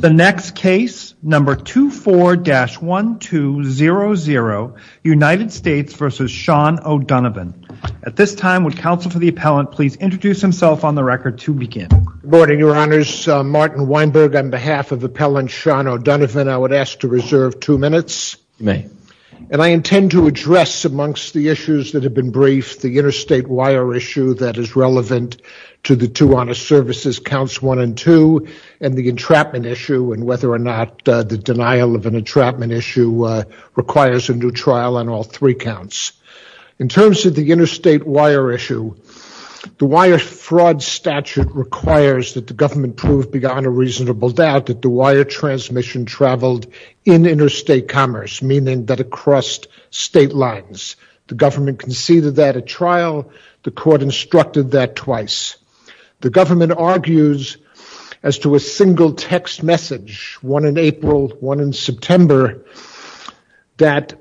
The next case, number 24-1200, United States v. Sean O'Donovan. At this time, would counsel for the appellant please introduce himself on the record to begin. Good morning, your honors. Martin Weinberg on behalf of appellant Sean O'Donovan, I would ask to reserve two minutes. You may. And I intend to address amongst the issues that have been briefed, the interstate wire issue that is relevant to the two honor services, counts one and two, and the entrapment issue and whether or not the denial of an entrapment issue requires a new trial on all three counts. In terms of the interstate wire issue, the wire fraud statute requires that the government prove beyond a reasonable doubt that the wire transmission traveled in interstate commerce, meaning that it crossed state lines. The government conceded that at trial. The court instructed that twice. The government argues as to a single text message, one in April, one in September, that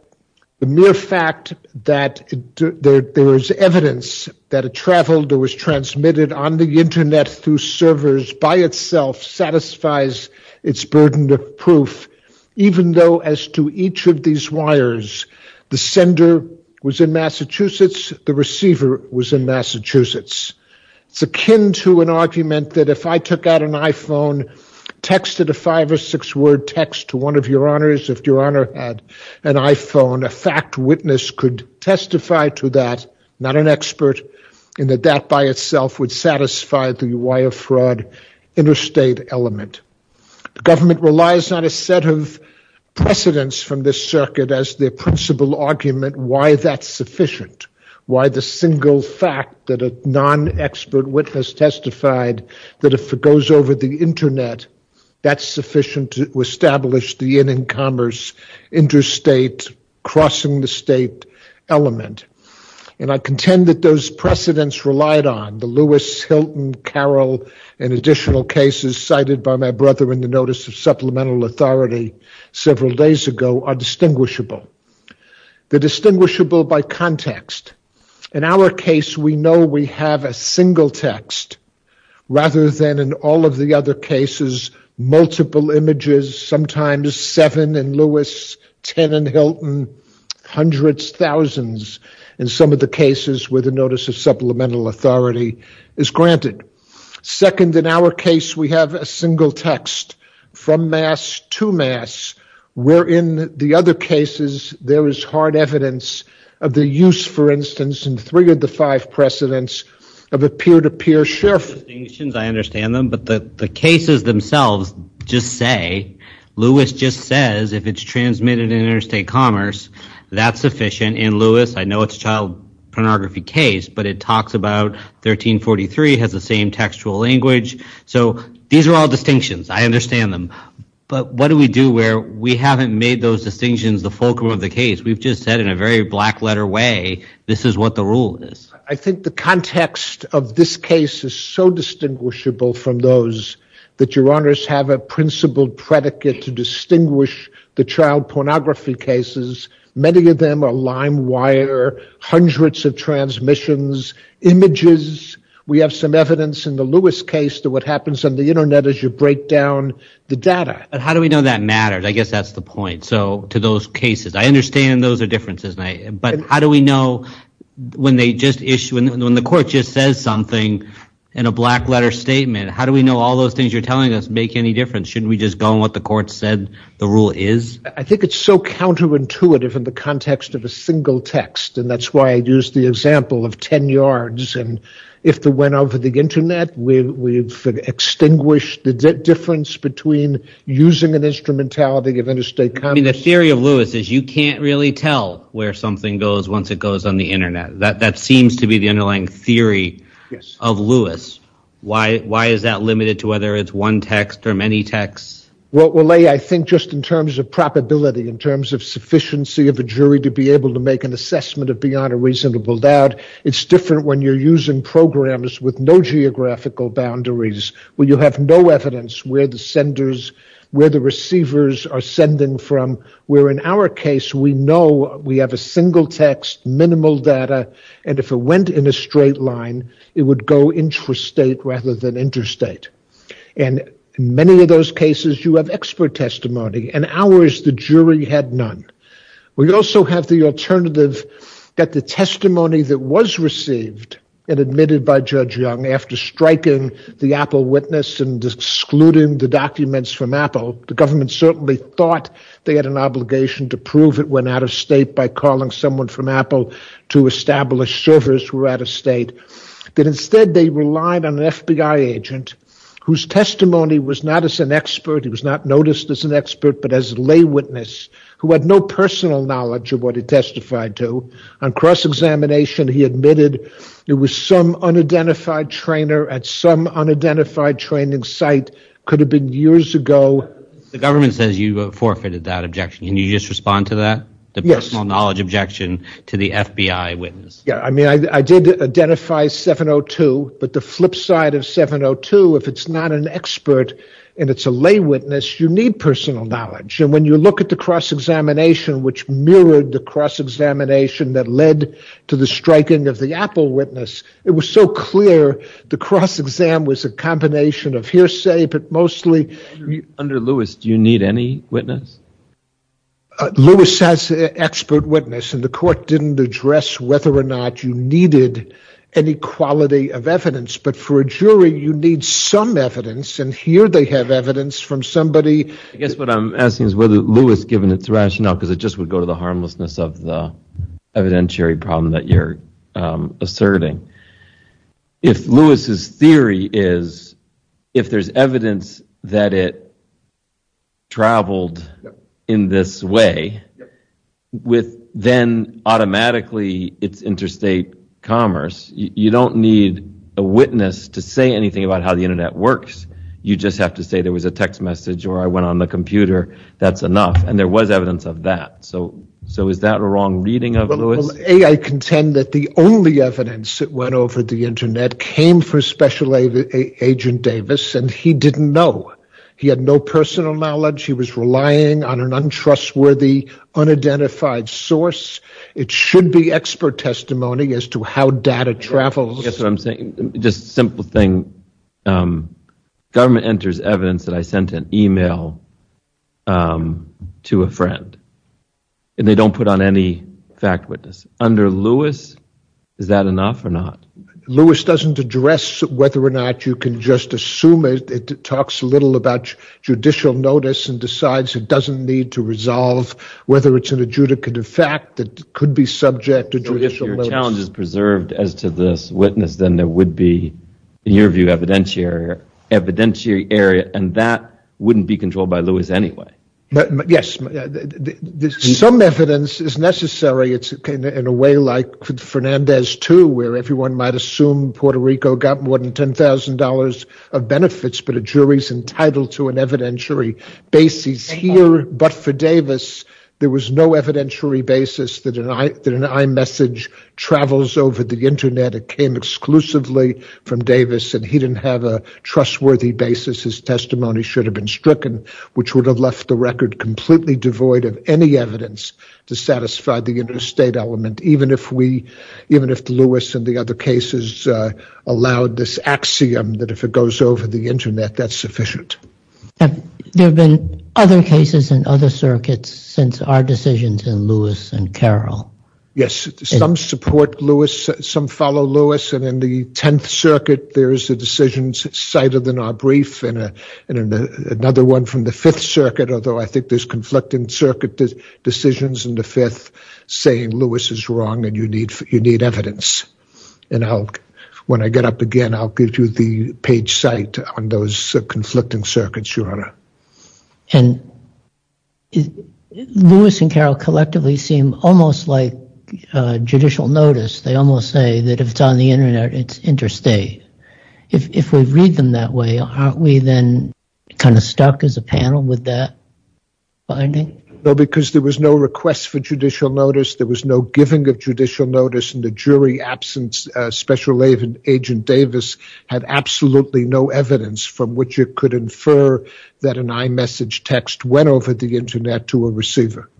the mere fact that there is evidence that it traveled or was transmitted on the internet through servers by itself satisfies its burden of proof, even though as to each of these wires, the sender was in Massachusetts, the receiver was in Massachusetts. It's akin to an argument that if I took out an iPhone, texted a five or six word text to one of your honors, if your honor had an iPhone, a fact witness could testify to that, not an expert, and that that by itself would satisfy the wire fraud interstate element. The government relies on a set of precedents from this circuit as their principal argument why that's sufficient. Why the single fact that a non-expert witness testified that if it goes over the internet, that's sufficient to establish the in-commerce interstate crossing the state element. And I contend that those precedents relied on. The Lewis, Hilton, Carroll, and additional cases cited by my brother in the notice of supplemental authority several days ago are distinguishable. They're distinguishable by context. In our case, we know we have a single text rather than in all of the other cases, multiple images, sometimes seven in Lewis, ten in Hilton, hundreds, thousands in some of the cases where the notice of supplemental authority is granted. Second, in our case, we have a single text from mass to mass, where in the other cases there is hard evidence of the use, for instance, in three of the five precedents of a peer-to-peer share. I understand them, but the cases themselves just say, Lewis just says, if it's transmitted in interstate commerce, that's sufficient. In Lewis, I know it's a child pornography case, but it talks about 1343, has the same textual language. So these are all distinctions. I understand them, but what do we do where we haven't made those distinctions the fulcrum of the case? We've just said in a very black letter way, this is what the rule is. I think the context of this case is so distinguishable from those that your honors have a principled predicate to distinguish the child pornography cases. Many of them are lime wire, hundreds of transmissions, images. We have some evidence in the Lewis case to what happens on the internet as you break down the data. How do we know that matters? I guess that's the point. So to those cases, I understand those are differences, but how do we know when the court just says something in a black letter statement, how do we know all those things you're telling us make any difference? Shouldn't we just go on what the court said the rule is? I think it's so counterintuitive in the context of a single text. And that's why I used the example of 10 yards. And if the went over the internet, we've extinguished the difference between using an instrumentality of interstate commerce. The theory of Lewis is you can't really tell where something goes once it goes on the internet. That seems to be the underlying theory of Lewis. Why is that limited to whether it's one text or many texts? Well, I think just in terms of probability, in terms of sufficiency of a jury to be able to make an assessment of beyond a reasonable doubt, it's different when you're using programs with no geographical boundaries where you have no evidence where the senders, where the receivers are sending from. Where in our case, we know we have a single text, minimal data, and if it went in a straight line, it would go interstate rather than interstate. And in many of those cases, you have expert testimony. In ours, the jury had none. We also have the alternative that the testimony that was received and admitted by Judge Young after striking the Apple witness and excluding the documents from Apple, the government certainly thought they had an obligation to prove it went out of state by calling someone from Apple to establish servers were out of state. But instead, they relied on an FBI agent whose testimony was not as an expert. He was not noticed as an expert, but as a lay witness who had no personal knowledge of what he testified to. On cross-examination, he admitted it was some unidentified trainer at some unidentified training site. Could have been years ago. The government says you forfeited that objection. Can you just respond to that? The personal knowledge objection to the FBI witness. Yeah, I mean, I did identify 702, but the flip side of 702, if it's not an expert and it's a lay witness, you need personal knowledge. And when you look at the cross-examination, which mirrored the cross-examination that led to the striking of the Apple witness, it was so clear the cross-exam was a combination of hearsay, but mostly... Under Lewis, do you need any witness? Lewis has an expert witness, and the court didn't address whether or not you needed any quality of evidence. But for a jury, you need some evidence, and here they have evidence from somebody... I guess what I'm asking is whether Lewis, given its rationale, because it just would go to the harmlessness of the evidentiary problem that you're asserting. If Lewis's theory is, if there's evidence that it traveled in this way, with then automatically its interstate commerce, you don't need a witness to say anything about how the internet works. You just have to say there was a text message or I went on the computer, that's enough. And there was evidence of that. So is that a wrong reading of Lewis? A, I contend that the only evidence that went over the internet came from Special Agent Davis, and he didn't know. He had no personal knowledge. He was relying on an untrustworthy, unidentified source. It should be expert testimony as to how data travels. I guess what I'm saying, just simple thing, government enters evidence that I sent an email to a friend, and they don't put on any witness. Under Lewis, is that enough or not? Lewis doesn't address whether or not you can just assume it. It talks a little about judicial notice and decides it doesn't need to resolve whether it's an adjudicative fact that could be subject to judicial notice. If your challenge is preserved as to this witness, then there would be, in your view, evidentiary area, and that wouldn't be controlled by Lewis anyway. Yes. Some evidence is necessary in a way like Fernandez 2, where everyone might assume Puerto Rico got more than $10,000 of benefits, but a jury's entitled to an evidentiary basis here. But for Davis, there was no evidentiary basis that an iMessage travels over the internet. It came exclusively from Davis, and he didn't have a trustworthy basis. His testimony should have been stricken, which would have left the record completely devoid of any evidence to satisfy the interstate element, even if Lewis and the other cases allowed this axiom that if it goes over the internet, that's sufficient. There have been other cases in other circuits since our decisions in Lewis and Carroll. Yes. Some support Lewis. Some follow Lewis. In the 10th Circuit, there is a decision cited in our brief, and another one from the 5th Circuit, although I think there's conflicting circuit decisions in the 5th, saying Lewis is wrong and you need evidence. When I get up again, I'll give you the page site on those conflicting circuits, Your Honor. Lewis and Carroll collectively seem almost like judicial notice. They almost say that it's on the internet, it's interstate. If we read them that way, aren't we then kind of stuck as a panel with that finding? No, because there was no request for judicial notice. There was no giving of judicial notice, and the jury absence, Special Agent Davis had absolutely no evidence from which it could infer that an iMessage text went over the internet to a receiver.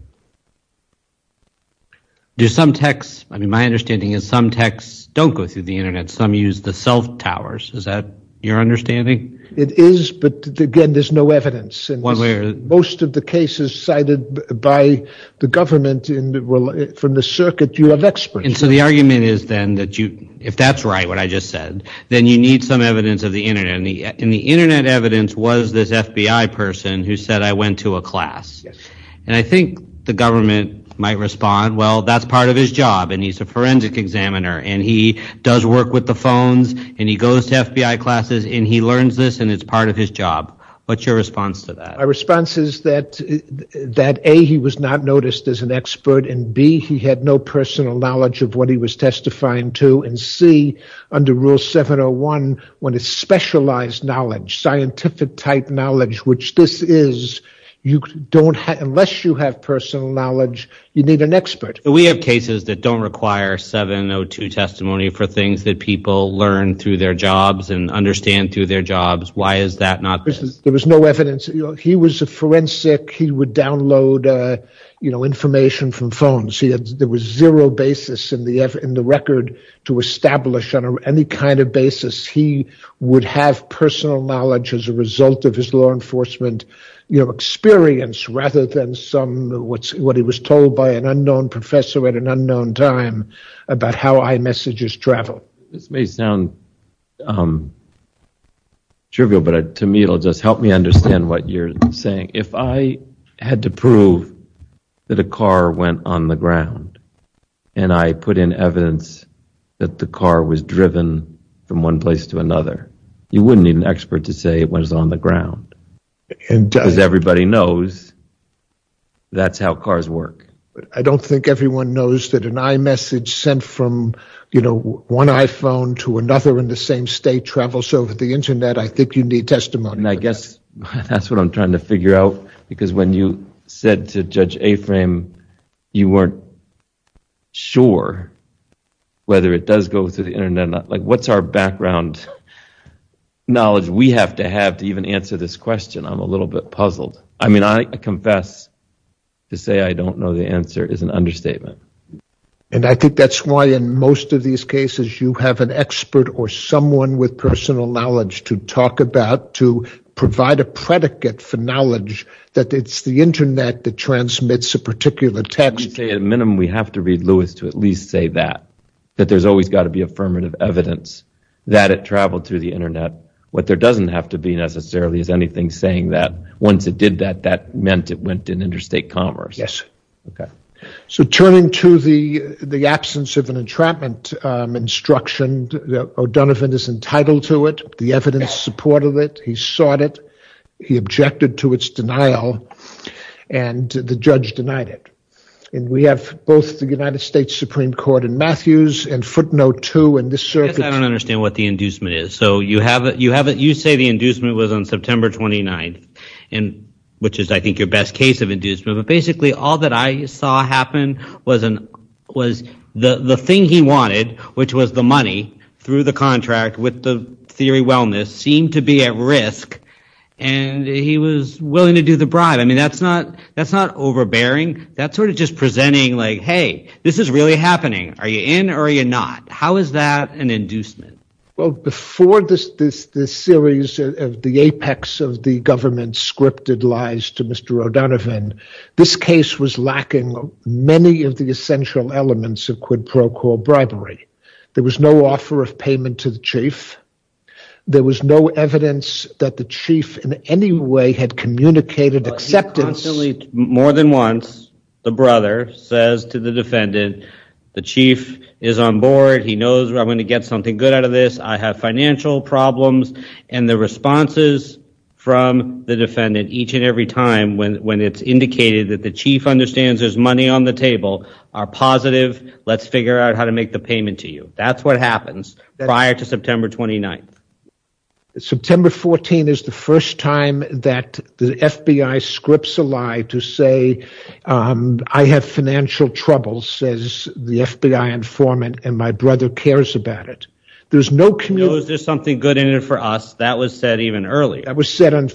Do some texts, I mean, my understanding is some texts don't go through the internet, some use the self-towers. Is that your understanding? It is, but again, there's no evidence. One way or the other. Most of the cases cited by the government from the circuit, you have experts. And so the argument is then that you, if that's right, what I just said, then you need some evidence of the internet, and the internet evidence was this FBI person who said, I went to a class. Yes. And I think the government might respond, well, that's part of his job, and he's a forensic examiner, and he does work with the phones, and he goes to FBI classes, and he learns this, and it's part of his job. What's your response to that? My response is that A, he was not noticed as an expert, and B, he had no personal knowledge of what he was testifying to, and C, under Rule 701, when it's specialized knowledge, scientific type knowledge, which this is, you don't have, unless you have personal knowledge, you need an expert. We have cases that don't require 702 testimony for things that people learn through their jobs and understand through their jobs. Why is that not? There was no evidence. He was a forensic. He would download information from phones. There was zero basis in the record to establish on any kind of basis. He would have personal knowledge as a result of his law enforcement experience rather than what he was told by an unknown professor at an unknown time about how iMessages travel. This may sound trivial, but to me, it'll just help me understand what you're saying. If I had to prove that a car went on the ground, and I put in evidence that the car was driven from one place to another, you wouldn't need an expert to say it was on the ground, because everybody knows that's how cars work. I don't think everyone knows that an iMessage sent from one iPhone to another in the same state travels over the internet. I think you need testimony. I guess that's what I'm trying to figure out, because when you said to Judge Aframe, you weren't sure whether it does go through the internet. What's our background knowledge we have to have to even answer this question? I'm a little bit puzzled. I confess to say I don't know the answer is an understatement. I think that's why in most of these cases, you have an expert or someone with personal knowledge to talk about, to provide a predicate for knowledge that it's the internet that transmits a particular text. At a minimum, we have to read Lewis to at least say that, that there's always got to be affirmative evidence that it traveled through the internet. What there doesn't have to be necessarily is anything saying that once it did that, that meant it went in interstate commerce. Turning to the absence of an entrapment instruction, O'Donovan is entitled to it. The evidence supported it. He sought it. He objected to its denial. The judge denied it. We have both the United States Supreme Court and Matthews and footnote two in this circuit. I don't understand what the inducement is. You say the inducement was on September 29, which is I think your best case of inducement. Basically, all that I saw happen was the thing he wanted, which was the money through the contract with the theory wellness, seemed to be at risk. He was willing to do the bribe. That's not overbearing. That's just presenting like, hey, this is really happening. Are you in or are you not? How is that an inducement? Well, before this series of the apex of the government scripted lies to Mr. O'Donovan, this case was lacking many of the essential elements of quid pro quo bribery. There was no offer of payment to the chief. There was no evidence that the chief in any way had communicated acceptance. More than once, the brother says to the defendant, the chief is on board. He knows I'm going to get something good out of this. I have financial problems. And the responses from the defendant each and every time when it's indicated that the chief understands there's money on the table are positive. Let's figure out how to make the payment to you. That's what happens prior to September 29th. September 14th is the first time that the FBI scripts a lie to say I have financial troubles, says the FBI informant, and my brother cares about it. There's no community. Is there something good in it for us? That was said even earlier. That was said in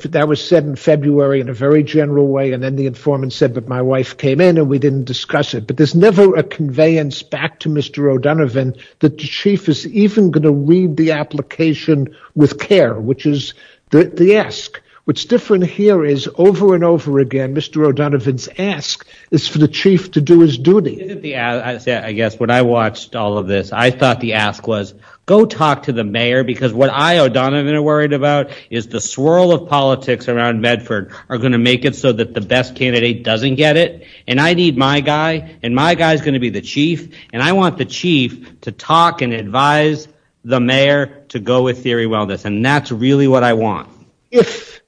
February in a very general way, and then the informant said that my wife came in and we didn't discuss it. But there's never a conveyance back to Mr. O'Donovan that the chief is even going to read the application with care, which is the ask. What's different here is over and over again, Mr. O'Donovan's ask is for the chief to do his duty. I guess when I watched all of this, I thought the ask was go talk to the mayor because what I, O'Donovan, am worried about is the swirl of politics around Medford are going to make it that the best candidate doesn't get it, and I need my guy, and my guy is going to be the chief, and I want the chief to talk and advise the mayor to go with theory wellness, and that's really what I want. If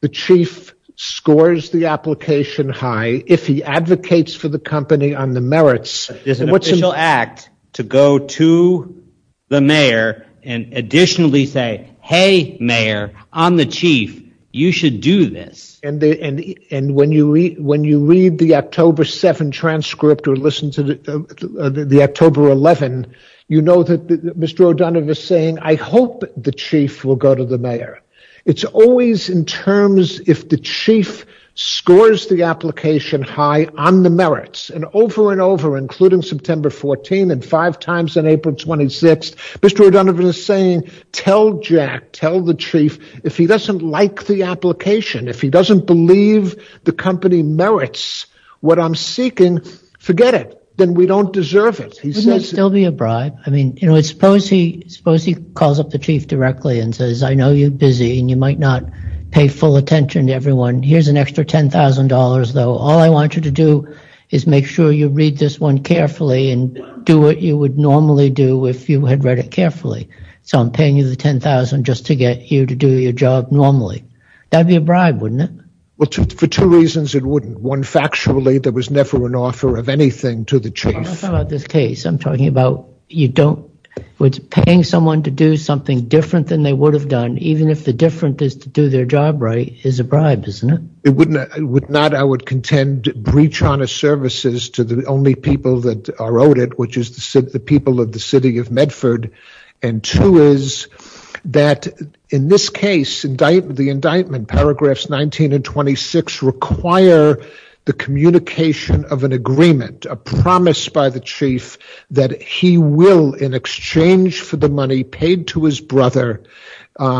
the chief scores the application high, if he advocates for the company on the merits, there's an official act to go to the mayor and additionally say, hey, mayor, I'm the chief, you should do this. And when you read the October 7 transcript or listen to the October 11, you know that Mr. O'Donovan is saying, I hope the chief will go to the mayor. It's always in terms if the chief scores the application high on the merits, and over and over, including September 14, and five times on April 26, Mr. O'Donovan is saying, tell Jack, tell the chief, if he doesn't like the application, if he doesn't believe the company merits what I'm seeking, forget it. Then we don't deserve it. Wouldn't it still be a bribe? I mean, suppose he calls up the chief directly and says, I know you're busy, and you might not pay full attention to everyone. Here's an extra $10,000, though. All I want you to do is make sure you read this one carefully and do what you would normally do if you had read it carefully. So I'm paying you the $10,000 just to get you to do your job normally. That'd be a bribe, wouldn't it? Well, for two reasons, it wouldn't. One, factually, there was never an offer of anything to the chief. I'm talking about this case. I'm talking about you don't, with paying someone to do something different than they would have done, even if the difference is to do their job right, is a bribe, isn't it? It would not, I would contend, breach honest services to the only people that are owed it, which is the people of the city of Medford. And two is that in this case, the indictment, paragraphs 19 and 26, require the communication of an agreement, a promise by the chief that he will, in exchange for the money paid to his brother,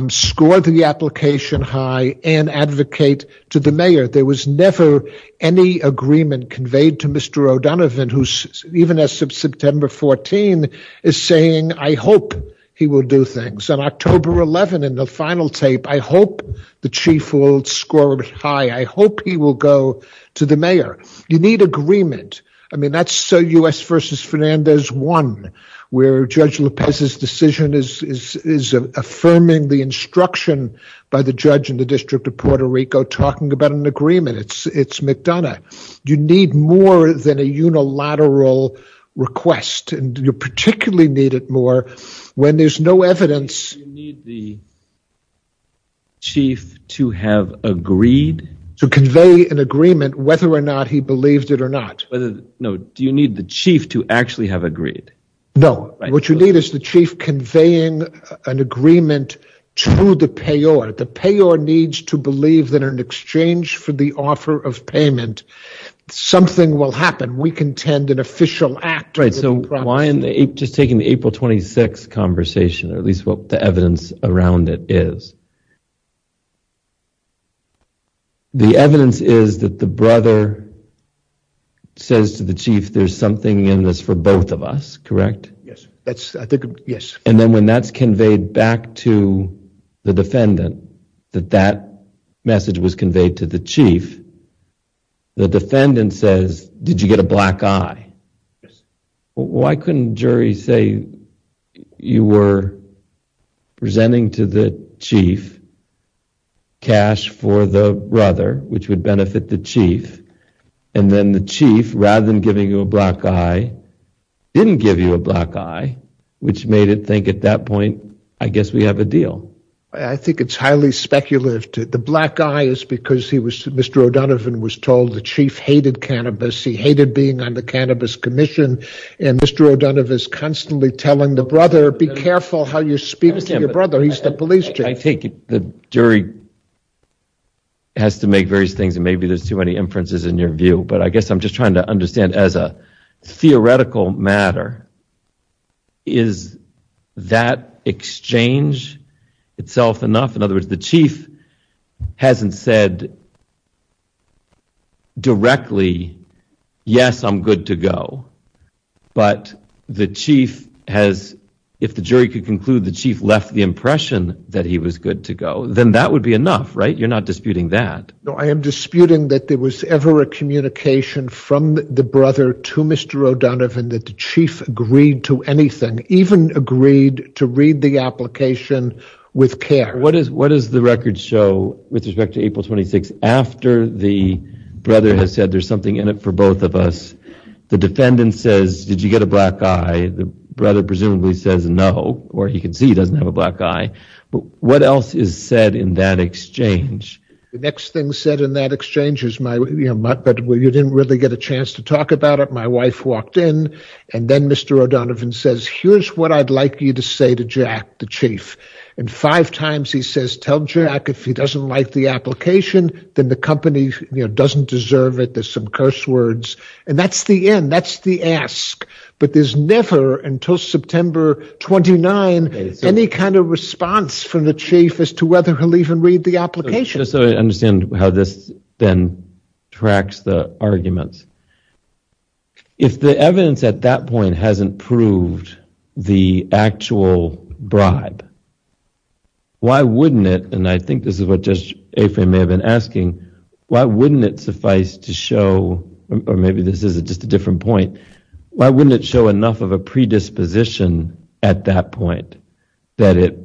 score the application high and advocate to the mayor. There was never any agreement conveyed to Mr. O'Donovan, who's, even as of September 14, is saying, I hope he will do things. On October 11, in the final tape, I hope the chief will score high. I hope he will go to the mayor. You need agreement. I mean, that's U.S. versus Fernandez one, where Judge Lopez's decision is affirming the instruction by the judge in the District of Puerto Rico, talking about an agreement. It's McDonough. You need more than a unilateral request, and you particularly need it more when there's no evidence. You need the chief to have agreed? To convey an agreement, whether or not he believed it or not. Whether, no, do you need the chief to actually have agreed? No. What you need is the chief conveying an agreement to the payor. The payor needs to believe that in exchange for the offer of payment, something will happen. We contend an official act. Right. So why in the, just taking the April 26 conversation, or at least what the evidence around it is, the evidence is that the brother says to the chief, there's something in this for both of us, correct? Yes. That's, I think, yes. And then when that's conveyed back to the defendant, that that message was conveyed to the chief, the defendant says, did you get a black eye? Yes. Why couldn't juries say you were presenting to the chief cash for the brother, which would the chief, and then the chief, rather than giving you a black eye, didn't give you a black eye, which made it think at that point, I guess we have a deal. I think it's highly speculative. The black eye is because he was, Mr. O'Donovan was told the chief hated cannabis. He hated being on the Cannabis Commission. And Mr. O'Donovan is constantly telling the brother, be careful how you speak to your brother. He's the police chief. I think the jury has to make various things, and maybe there's too many inferences in your view. But I guess I'm just trying to understand as a theoretical matter, is that exchange itself enough? In other words, the chief hasn't said directly, yes, I'm good to go. But the chief has, if the jury could conclude the chief left the impression that he was good to go, then that would be enough, right? You're not disputing that. No, I am disputing that there was ever a communication from the brother to Mr. O'Donovan that the chief agreed to anything, even agreed to read the application with care. What does the record show with respect to April 26, after the brother has said there's something for both of us? The defendant says, did you get a black eye? The brother presumably says no, or he can see he doesn't have a black eye. But what else is said in that exchange? The next thing said in that exchange is, you didn't really get a chance to talk about it. My wife walked in, and then Mr. O'Donovan says, here's what I'd like you to say to Jack, the chief. And five times he says, tell Jack if he doesn't like the application, then the company doesn't deserve it. There's some curse words. And that's the end. That's the ask. But there's never, until September 29, any kind of response from the chief as to whether he'll even read the application. So I understand how this then tracks the arguments. If the evidence at that point hasn't proved the actual bribe, why wouldn't it, and I think this is what Judge Affran may have been asking, why wouldn't it suffice to show, or maybe this is just a different point, why wouldn't it show enough of a predisposition at that point that it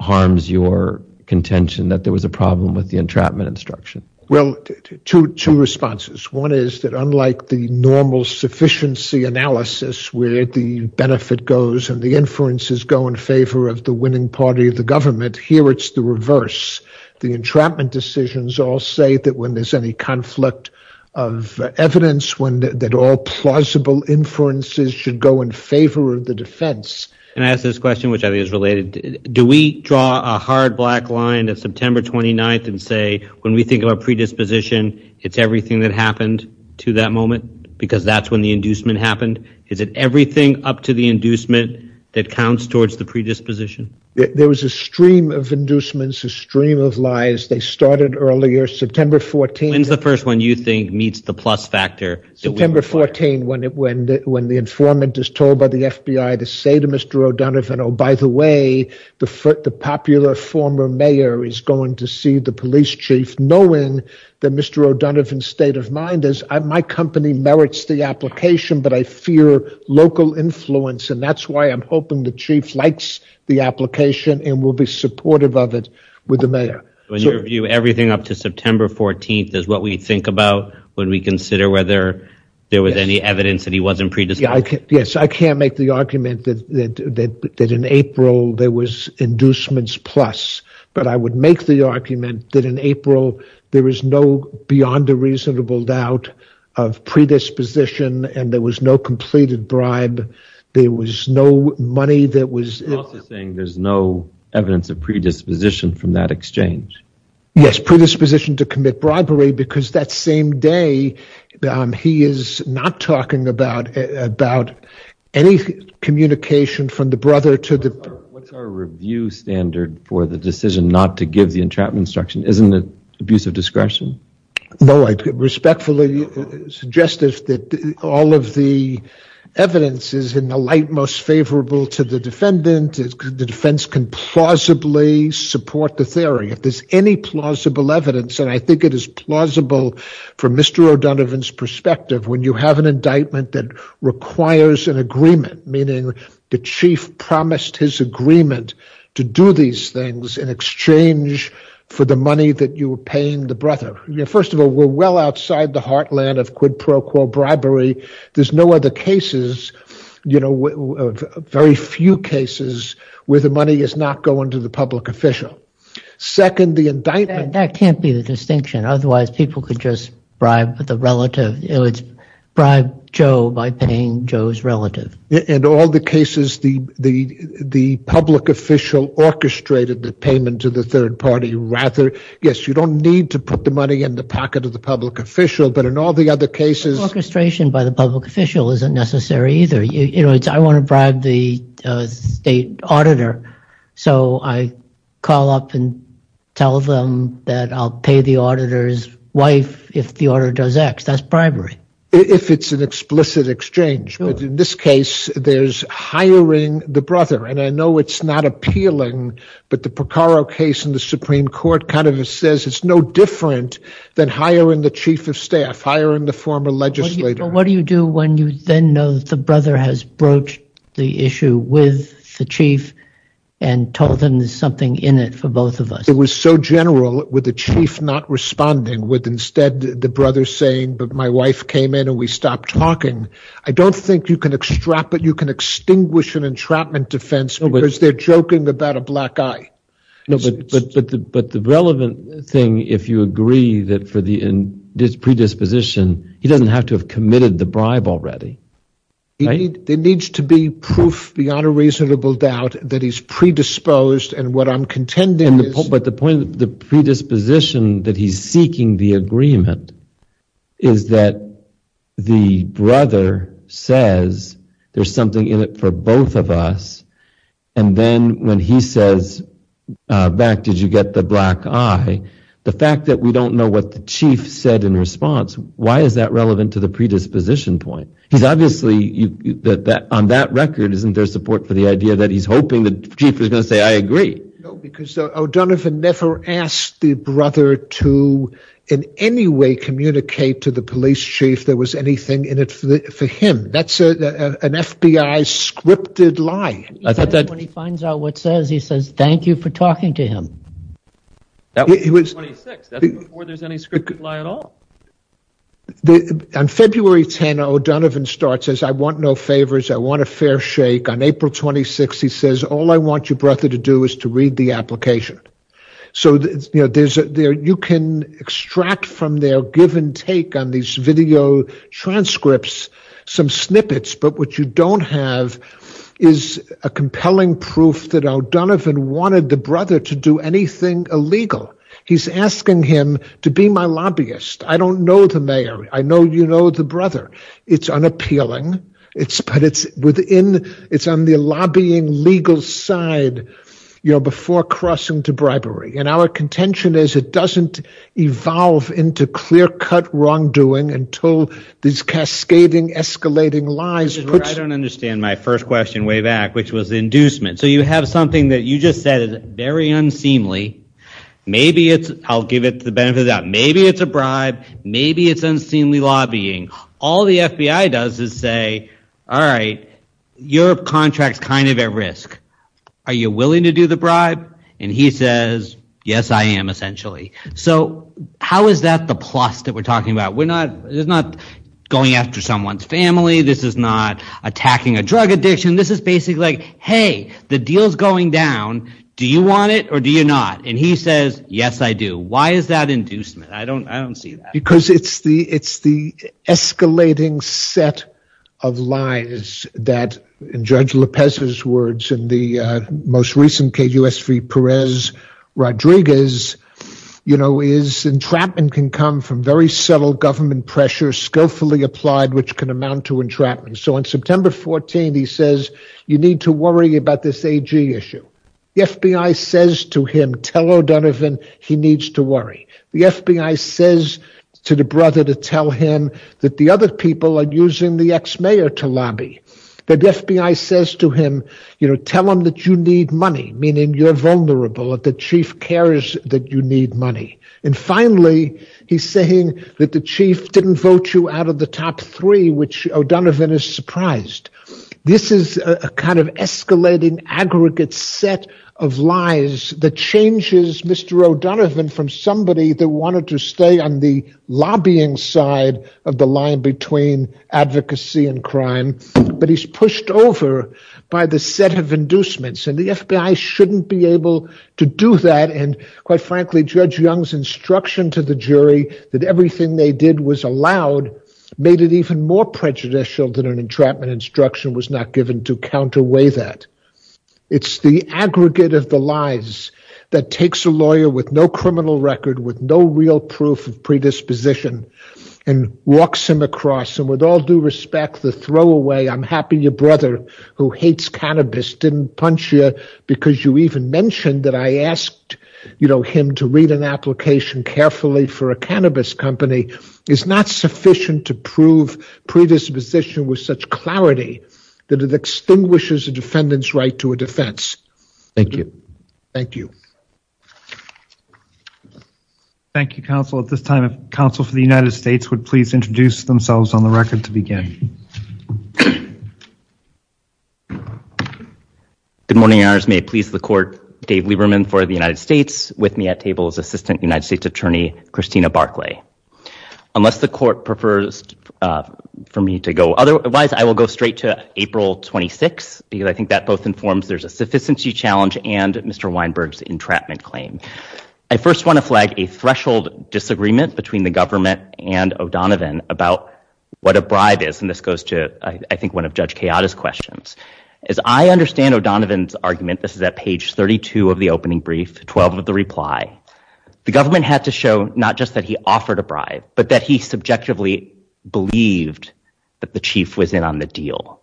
harms your contention that there was a problem with the entrapment instruction? Well, two responses. One is that unlike the normal sufficiency analysis where the benefit goes and the inferences go in favor of the winning party of the government, here it's the reverse. The entrapment decisions all say that when there's any conflict of evidence, that all plausible inferences should go in favor of the defense. Can I ask this question, which I think is related? Do we draw a hard black line at September 29 and say, when we think of a predisposition, it's everything that happened to that moment, because that's when the inducement happened? Is it everything up to the inducement that counts towards the predisposition? There was a stream of inducements, a stream of lies. They started earlier, September 14. When's the first one you think meets the plus factor? September 14, when the informant is told by the FBI to say to Mr. O'Donovan, oh, by the way, the popular former mayor is going to see the police chief, knowing that Mr. O'Donovan's my company merits the application, but I fear local influence, and that's why I'm hoping the chief likes the application and will be supportive of it with the mayor. When you review everything up to September 14, is what we think about when we consider whether there was any evidence that he wasn't predisposed? Yes, I can't make the argument that in April, there was inducements plus, but I would make the argument that in April, there is no beyond a reasonable doubt of predisposition, and there was no completed bribe. There was no money that was... You're also saying there's no evidence of predisposition from that exchange? Yes, predisposition to commit bribery, because that same day, he is not talking about any communication from the brother to the... What's our review standard for the decision not to give the entrapment instruction? Isn't it abuse of discretion? No, I respectfully suggest that all of the evidence is in the light most favorable to the defendant. The defense can plausibly support the theory. If there's any plausible evidence, and I think it is plausible from Mr. O'Donovan's perspective, when you have an indictment that requires an agreement, meaning the chief promised his agreement to do these things in exchange for the money that you were paying the brother. First of all, we're well outside the heartland of quid pro quo bribery. There's no other cases, very few cases where the money is not going to the public official. Second, the indictment... That can't be the distinction. Otherwise, people could just bribe the relative. It's bribe Joe by paying Joe's relative. In all the cases, the public official orchestrated the payment to the third party, rather. Yes, you don't need to put the money in the pocket of the public official, but in all the other cases... Orchestration by the public official isn't necessary either. I want to bribe the state auditor, so I call up and tell them that I'll pay the auditor's wife if the auditor does X. That's bribery. If it's an explicit exchange. In this case, there's hiring the brother, and I know it's not appealing, but the Porcaro case in the Supreme Court kind of says it's no different than hiring the chief of staff, hiring the former legislator. What do you do when you then know that the brother has broached the issue with the chief and told them there's something in it for both of us? It was so general, with the chief not responding, with instead the brother saying, but my wife came in and we stopped talking. I don't think you can extinguish an entrapment defense because they're joking about a black eye. But the relevant thing, if you agree that for the predisposition, he doesn't have to have committed the bribe already. There needs to be proof beyond a reasonable doubt that he's predisposed, and what I'm contending is... But the point of the predisposition that he's seeking the agreement is that the brother says there's something in it for both of us, and then when he says back, did you get the black eye? The fact that we don't know what the chief said in response, why is that relevant to the predisposition point? He's obviously, on that record, isn't there for the idea that he's hoping the chief is going to say, I agree. No, because O'Donovan never asked the brother to in any way communicate to the police chief there was anything in it for him. That's an FBI scripted lie. I thought that when he finds out what says, he says, thank you for talking to him. That was in 26. That's before there's any scripted lie at all. On February 10, O'Donovan starts, says, I want no favors. I want a fair shake. On April 26, he says, all I want your brother to do is to read the application. You can extract from their give and take on these video transcripts some snippets, but what you don't have is a compelling proof that O'Donovan wanted the brother to do anything illegal. He's asking him to be my lobbyist. I don't know the mayor. I know you know the brother. It's unappealing, but it's on the lobbying legal side before crossing to bribery. Our contention is it doesn't evolve into clear cut wrongdoing until these cascading escalating lies put- I don't understand my first question way back, which was inducement. You have something that you just said is very unseemly. Maybe it's- I'll give it to the benefit of the doubt. Maybe it's a bribe. Maybe it's unseemly lobbying. All the FBI does is say, all right, your contract's kind of at risk. Are you willing to do the bribe? And he says, yes, I am, essentially. So how is that the plus that we're talking about? There's not going after someone's family. This is not attacking a drug addiction. This is basically like, hey, the deal's going down. Do you want it or do you not? And he says, yes, I do. Why is that inducement? I don't see that. Because it's the escalating set of lies that, in Judge Lopez's words, in the most recent KUSV Perez Rodriguez, is entrapment can come from very subtle government pressure skillfully applied, which can amount to entrapment. So on September 14, he says, you need to worry about this AG issue. The FBI says to him, tell O'Donovan he needs to worry. The FBI says to the brother to tell him that the other people are using the ex-mayor to lobby. The FBI says to him, tell him that you need money, meaning you're vulnerable. The chief cares that you need money. And finally, he's saying that the chief didn't vote you out of the top three, which O'Donovan is surprised. This is a kind of escalating aggregate set of lies that changes Mr. O'Donovan from somebody that wanted to stay on the lobbying side of the line between advocacy and crime. But he's pushed over by the set of inducements. And the FBI shouldn't be able to do that. And, that everything they did was allowed, made it even more prejudicial than an entrapment instruction was not given to counterweight that. It's the aggregate of the lies that takes a lawyer with no criminal record, with no real proof of predisposition, and walks him across. And with all due respect, the throwaway, I'm happy your brother who hates cannabis didn't punch you because you even mentioned that I asked him to read an application carefully for a cannabis company is not sufficient to prove predisposition with such clarity that it extinguishes a defendant's right to a defense. Thank you. Thank you. Thank you, counsel. At this time, if counsel for the United States would please introduce themselves on the record to begin. Good morning, may I please the court, Dave Lieberman for the United States with me at United States attorney, Christina Barkley. Unless the court prefers for me to go otherwise, I will go straight to April 26 because I think that both informs there's a sufficiency challenge and Mr. Weinberg's entrapment claim. I first want to flag a threshold disagreement between the government and O'Donovan about what a bribe is. And this goes to, I think, one of Judge Kayada's questions. As I understand O'Donovan's argument, this is at page 32 of the the government had to show not just that he offered a bribe, but that he subjectively believed that the chief was in on the deal.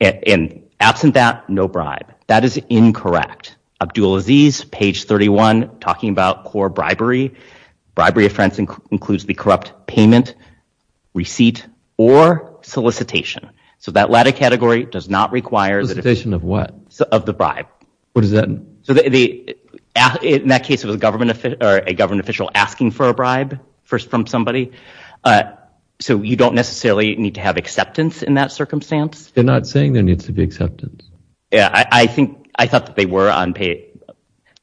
And absent that no bribe. That is incorrect. Abdul Aziz, page 31, talking about core bribery, bribery offense includes the corrupt payment, receipt or solicitation. So that latter category does not require solicitation of what of the What is that? So in that case, it was a government or a government official asking for a bribe from somebody. So you don't necessarily need to have acceptance in that circumstance. They're not saying there needs to be acceptance. Yeah, I think I thought that they were unpaid.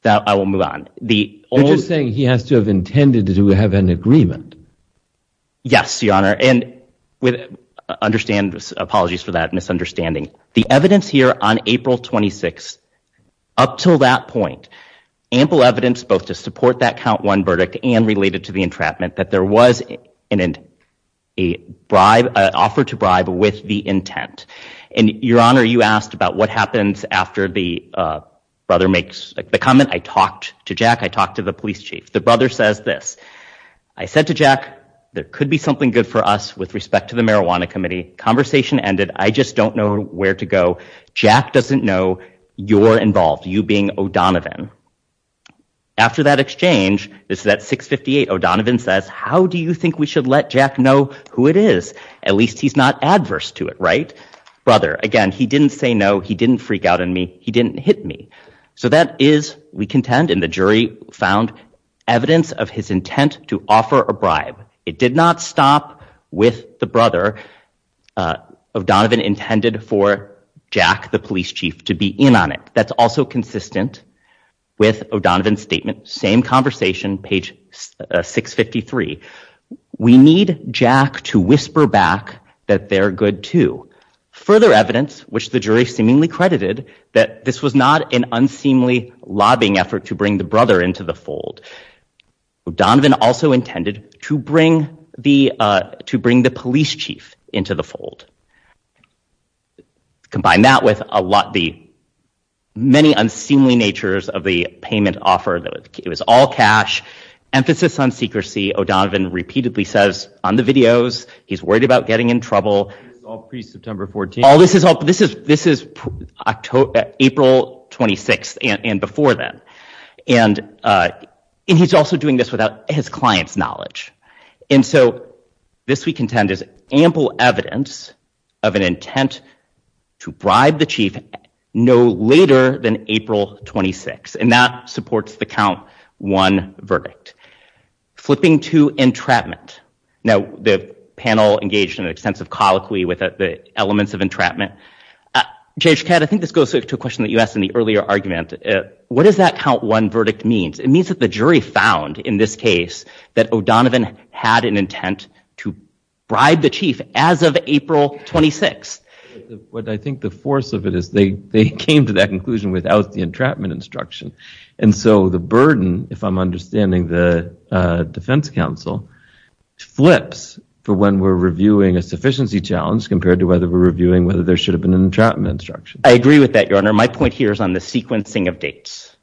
Now I will move on. The only thing he has to have intended to have an agreement. Yes, your honor. And with understand apologies for that misunderstanding. The evidence here on April 26 up till that point, ample evidence both to support that count one verdict and related to the entrapment that there was an offer to bribe with the intent. And your honor, you asked about what happens after the brother makes the comment. I talked to Jack. I talked to the police chief. The brother says this. I said to Jack, there could be something good for us with respect to marijuana committee. Conversation ended. I just don't know where to go. Jack doesn't know you're involved, you being O'Donovan. After that exchange, this is that 658 O'Donovan says, how do you think we should let Jack know who it is? At least he's not adverse to it. Right, brother? Again, he didn't say no. He didn't freak out in me. He didn't hit me. So that is we contend in found evidence of his intent to offer a bribe. It did not stop with the brother. O'Donovan intended for Jack, the police chief, to be in on it. That's also consistent with O'Donovan's statement. Same conversation, page 653. We need Jack to whisper back that they're good too. Further evidence, which the jury seemingly credited that this was not an unseemly lobbying effort to bring the brother into the fold. O'Donovan also intended to bring the police chief into the fold. Combine that with the many unseemly natures of the payment offer. It was all cash. Emphasis on secrecy. O'Donovan repeatedly says on the videos, he's worried about getting in trouble. This is April 26th and before that. And he's also doing this without his client's knowledge. And so this we contend is ample evidence of an intent to bribe the chief no later than April 26th. And that supports the count one verdict. Flipping to entrapment. Now, the panel engaged in an extensive colloquy with the elements of entrapment. J.H. Catt, I think this goes to a question that you asked in the earlier argument. What does that count one verdict mean? It means that the jury found in this case that O'Donovan had an intent to bribe the chief as of April 26th. What I think the force of it is they came to that conclusion without the entrapment instruction. And so the burden, if I'm understanding the defense counsel, flips for when we're reviewing a sufficiency challenge compared to whether we're reviewing whether there should have been an entrapment instruction. I agree with that, your honor. My point here is on the sequencing of dates.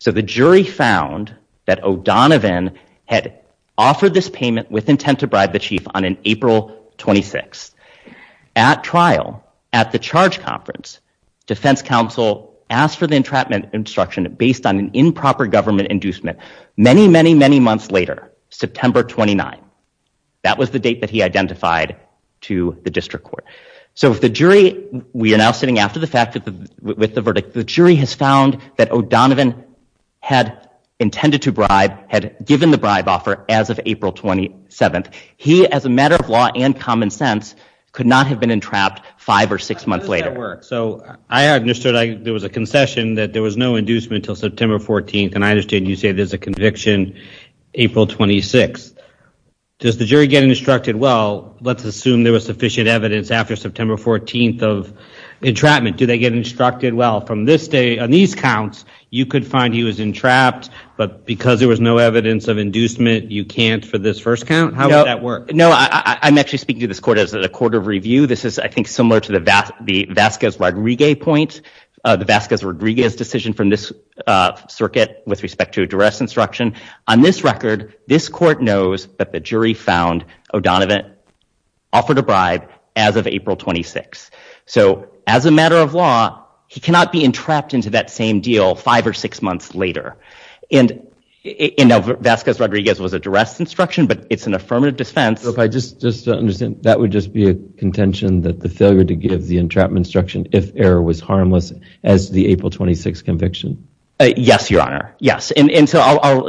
So the jury found that O'Donovan had offered this payment with intent to bribe the chief on an April 26th. At trial, at the charge conference, defense counsel asked for the entrapment instruction based on an improper government inducement. Many, many, many months later, September 29th, that was the date that he identified to the district court. So if the jury, we are now sitting after the fact with the verdict, the jury has found that O'Donovan had intended to bribe, had given the bribe offer as of April 27th. He, as a matter of law and common sense, could not have been entrapped five or six months later. So I understood there was a concession that there was no inducement until September 14th, and I understand you say there's a conviction April 26th. Does the jury get instructed, well, let's assume there was sufficient evidence after September 14th of entrapment. Do they get instructed, well, from this day on these counts, you could find he was entrapped, but because there was no evidence of inducement, you can't for this first count? How would that work? No, I'm actually speaking to this court as a court of review. This is, I think, the Vazquez-Rodriguez point, the Vazquez-Rodriguez decision from this circuit with respect to a duress instruction. On this record, this court knows that the jury found O'Donovan offered a bribe as of April 26th. So as a matter of law, he cannot be entrapped into that same deal five or six months later. And Vazquez-Rodriguez was a duress instruction, but it's an affirmative defense. Just to understand, that would just be a contention that the failure to give the entrapment instruction if error was harmless as the April 26 conviction? Yes, Your Honor. Yes. And so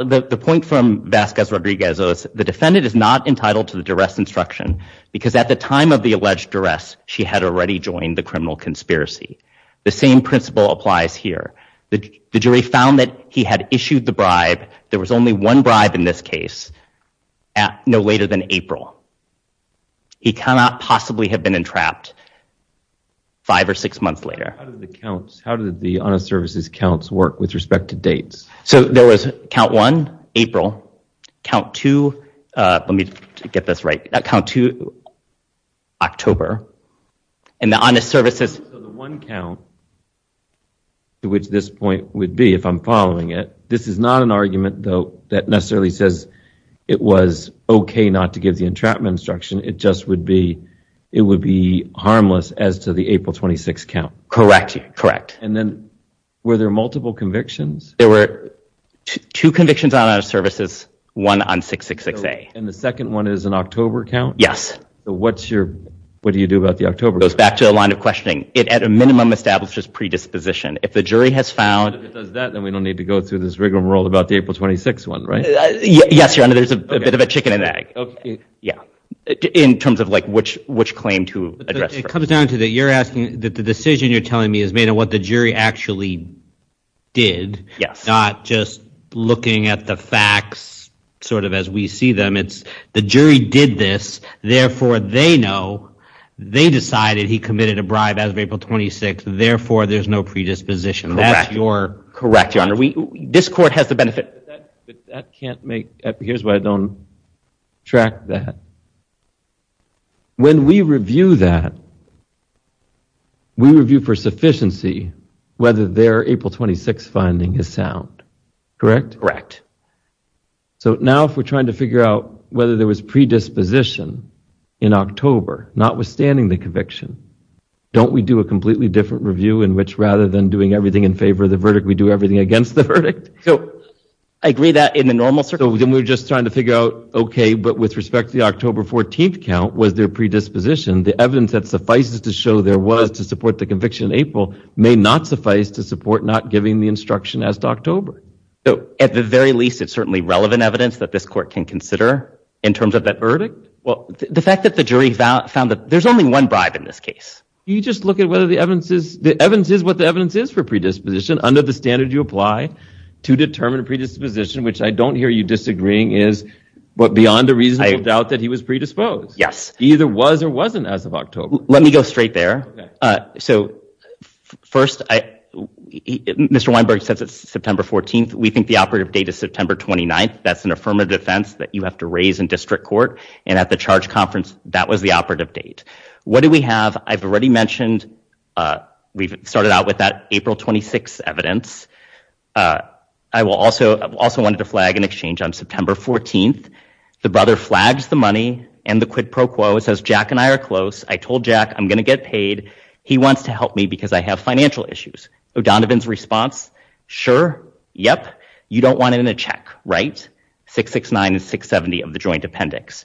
the point from Vazquez-Rodriguez is the defendant is not entitled to the duress instruction because at the time of the alleged duress, she had already joined the criminal conspiracy. The same principle applies here. The jury found that he had issued the bribe, there was only one bribe in this case, no later than April. He cannot possibly have been entrapped five or six months later. How did the counts, how did the honest services counts work with respect to dates? So there was count one, April. Count two, let me get this right, count two, October. And the honest services... So the one count to which this point would be, if I'm following it, this is not an argument though that necessarily says it was okay not to give the entrapment instruction. It just would be, it would be harmless as to the April 26 count. Correct. Correct. And then were there multiple convictions? There were two convictions on honest services, one on 666A. And the second one is an October count? Yes. So what's your, what do you do about the October? It goes back to the line of questioning. It at a minimum establishes predisposition. If the jury has found... If it does that, then we don't need to go through this rigmarole about the April 26 one, right? Yes, your honor, there's a bit of a chicken and egg. Okay. Yeah. In terms of like which claim to address. It comes down to that you're asking that the decision you're telling me is made on what the jury actually did. Yes. Not just looking at the facts sort of as we see them. It's the jury did this, therefore they know, they decided he committed a bribe as of April 26, therefore there's no predisposition. That's your... Correct, your honor. We, this court has the benefit... That can't make, here's why I don't track that. When we review that, we review for sufficiency whether their April 26 finding is sound. Correct? Correct. So now if we're trying to figure out whether there was predisposition in October, notwithstanding the conviction, don't we do a completely different review in which rather than doing everything in favor of the verdict, we do everything against the verdict? So I agree that in the normal circle... Then we're just trying to figure out, okay, but with respect to the October 14th count, was there predisposition? The evidence that suffices to show there was to support the conviction in April may not suffice to support not giving the instruction as to October. So at the very least, it's certainly relevant evidence that this court can consider in terms of that verdict? Well, the fact that the jury found that there's only one bribe in this case. You just look at whether the evidence is, the evidence is what the evidence is for predisposition under the standard you apply to determine predisposition, which I don't hear you disagreeing is beyond a reasonable doubt that he was predisposed. Yes. He either was or wasn't as of Let me go straight there. So first, Mr. Weinberg says it's September 14th. We think the operative date is September 29th. That's an affirmative defense that you have to raise in district court. And at the charge conference, that was the operative date. What do we have? I've already mentioned, we've started out with that April 26th evidence. I will also, I've also wanted to flag an exchange on September 14th. The brother flags the money and the quid pro quo. It says Jack and I are close. I told Jack I'm going to get paid. He wants to help me because I have financial issues. O'Donovan's response. Sure. Yep. You don't want it in a check, right? 669 and 670 of the joint appendix.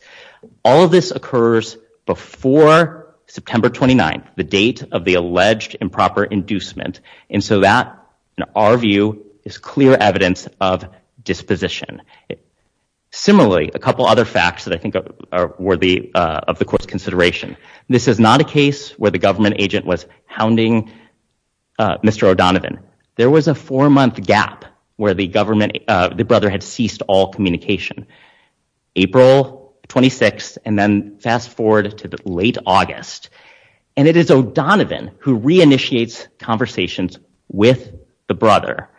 All of this occurs before September 29th, the date of the alleged improper inducement. And so that in our view is clear evidence of disposition. Similarly, a couple other facts that I think are worthy of the court's consideration. This is not a case where the government agent was hounding Mr. O'Donovan. There was a four-month gap where the government, the brother had ceased all communication. April 26th and then fast forward to the late August. And it is O'Donovan who re-initiates conversations with the brother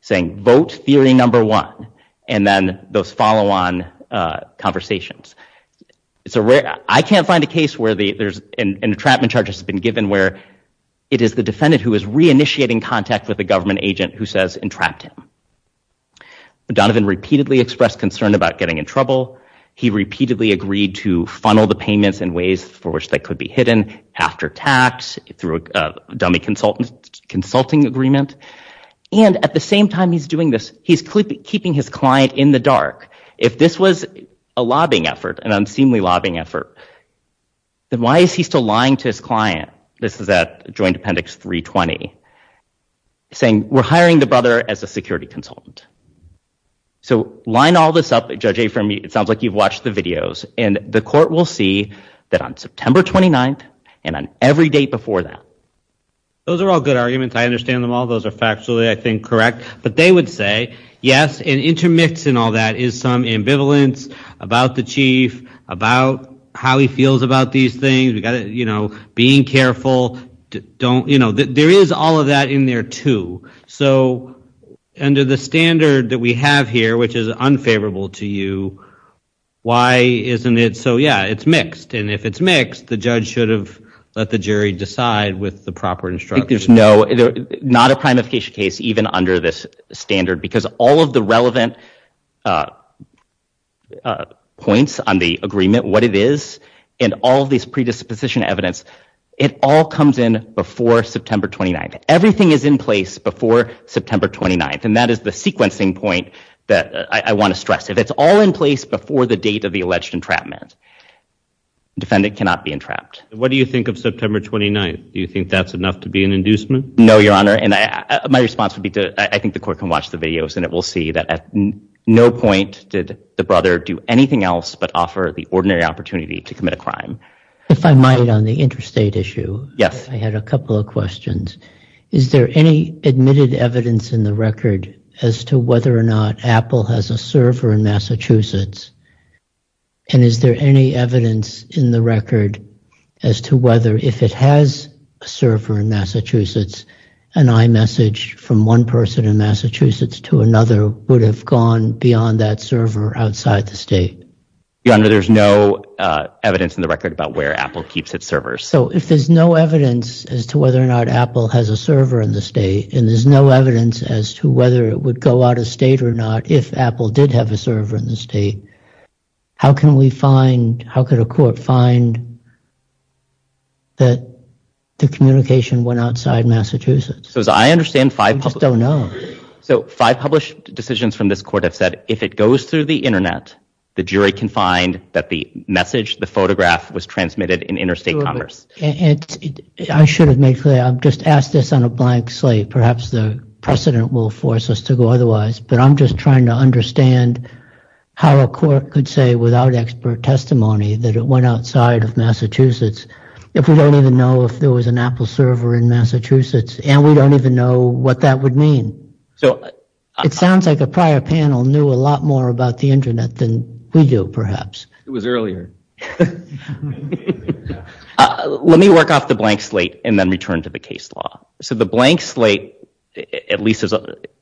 saying vote theory number one. And then those follow-on conversations. It's a rare, I can't find a case where there's an entrapment charge has been given where it is the defendant who is re-initiating contact with a government agent who says entrapped him. O'Donovan repeatedly expressed concern about getting in trouble. He repeatedly agreed to funnel the payments in ways for which they could be hidden after tax through a dummy consultant consulting agreement. And at the same time he's doing this, he's keeping his client in the dark. If this was a lobbying effort, an unseemly lobbying effort, then why is he still lying to his client? This is at Joint Appendix 320, saying we're hiring the brother as a security consultant. So line all this up, Judge Afermead, it sounds like you've watched the videos and the court will see that on September 29th and on every day before that. Those are all good arguments. I understand them all. Those are factually, I think, correct. But they would say, yes, an intermix in all that is some ambivalence about the chief, about how he feels about these things. We've got to, you know, being careful. Don't, you know, there is all of that in there too. So under the standard that we have here, which is unfavorable to you, why isn't it so? Yeah, it's mixed. And if it's mixed, the judge should have let the jury decide with the proper instructions. No, not a primification case, even under this standard, because all of the relevant points on the agreement, what it is, and all these predisposition evidence, it all comes in before September 29th. Everything is in place before September 29th. And that is the sequencing point that I want to stress. If it's all in place before the date of the alleged entrapment, defendant cannot be entrapped. What do you think of September 29th? Do you think that's enough to be an inducement? No, Your Honor. And my response would be to, I think the court can watch the videos, and it will see that at no point did the brother do anything else but offer the ordinary opportunity to commit a crime. If I might, on the interstate issue. Yes. I had a couple of questions. Is there any admitted evidence in the record as to whether or not Apple has a server in Massachusetts? And is there any evidence in the record as to whether if it has a server in Massachusetts, an iMessage from one person in Massachusetts to another would have gone beyond that server outside the state? Your Honor, there's no evidence in the record about where Apple keeps its servers. So if there's no evidence as to whether or not Apple has a server in the state, and there's no evidence as to whether it would go out of state or not if Apple did have a server in the state, how can we find, how could a court find that the communication went outside Massachusetts? So as I understand, five published... I just don't know. So five published decisions from this court have said if it goes through the internet, the jury can find that the message, the photograph was transmitted in interstate commerce. I should have made clear, I've just asked this on a blank slate. Perhaps the precedent will force us to go otherwise, but I'm just trying to understand how a court could say without expert testimony that it went outside of Massachusetts, if we don't even know if there was an Apple server in Massachusetts, and we don't even know what that would mean. So it sounds like a prior panel knew a lot more about the internet than we do, perhaps. It was earlier. Let me work off the blank slate and then return to the case law. So the blank slate, at least,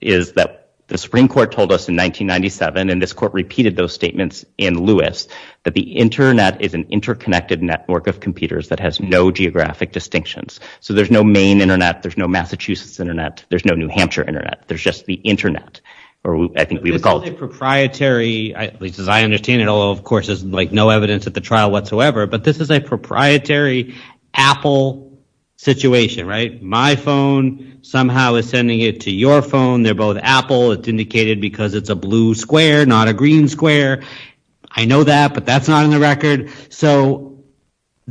is that the Supreme Court told us in 1997, and this court repeated those statements in Lewis, that the internet is an interconnected network of computers that has no geographic distinctions. So there's no main internet, there's no Massachusetts internet, there's no New Hampshire internet, there's just the internet, or I think we would call it... This is a proprietary, at least as I understand it, although of course there's like no evidence at the trial whatsoever, but this is a proprietary Apple situation, right? My phone somehow is sending it to your phone. They're both Apple. It's indicated because it's a blue square, not a green square. I know that, but that's not in the record. So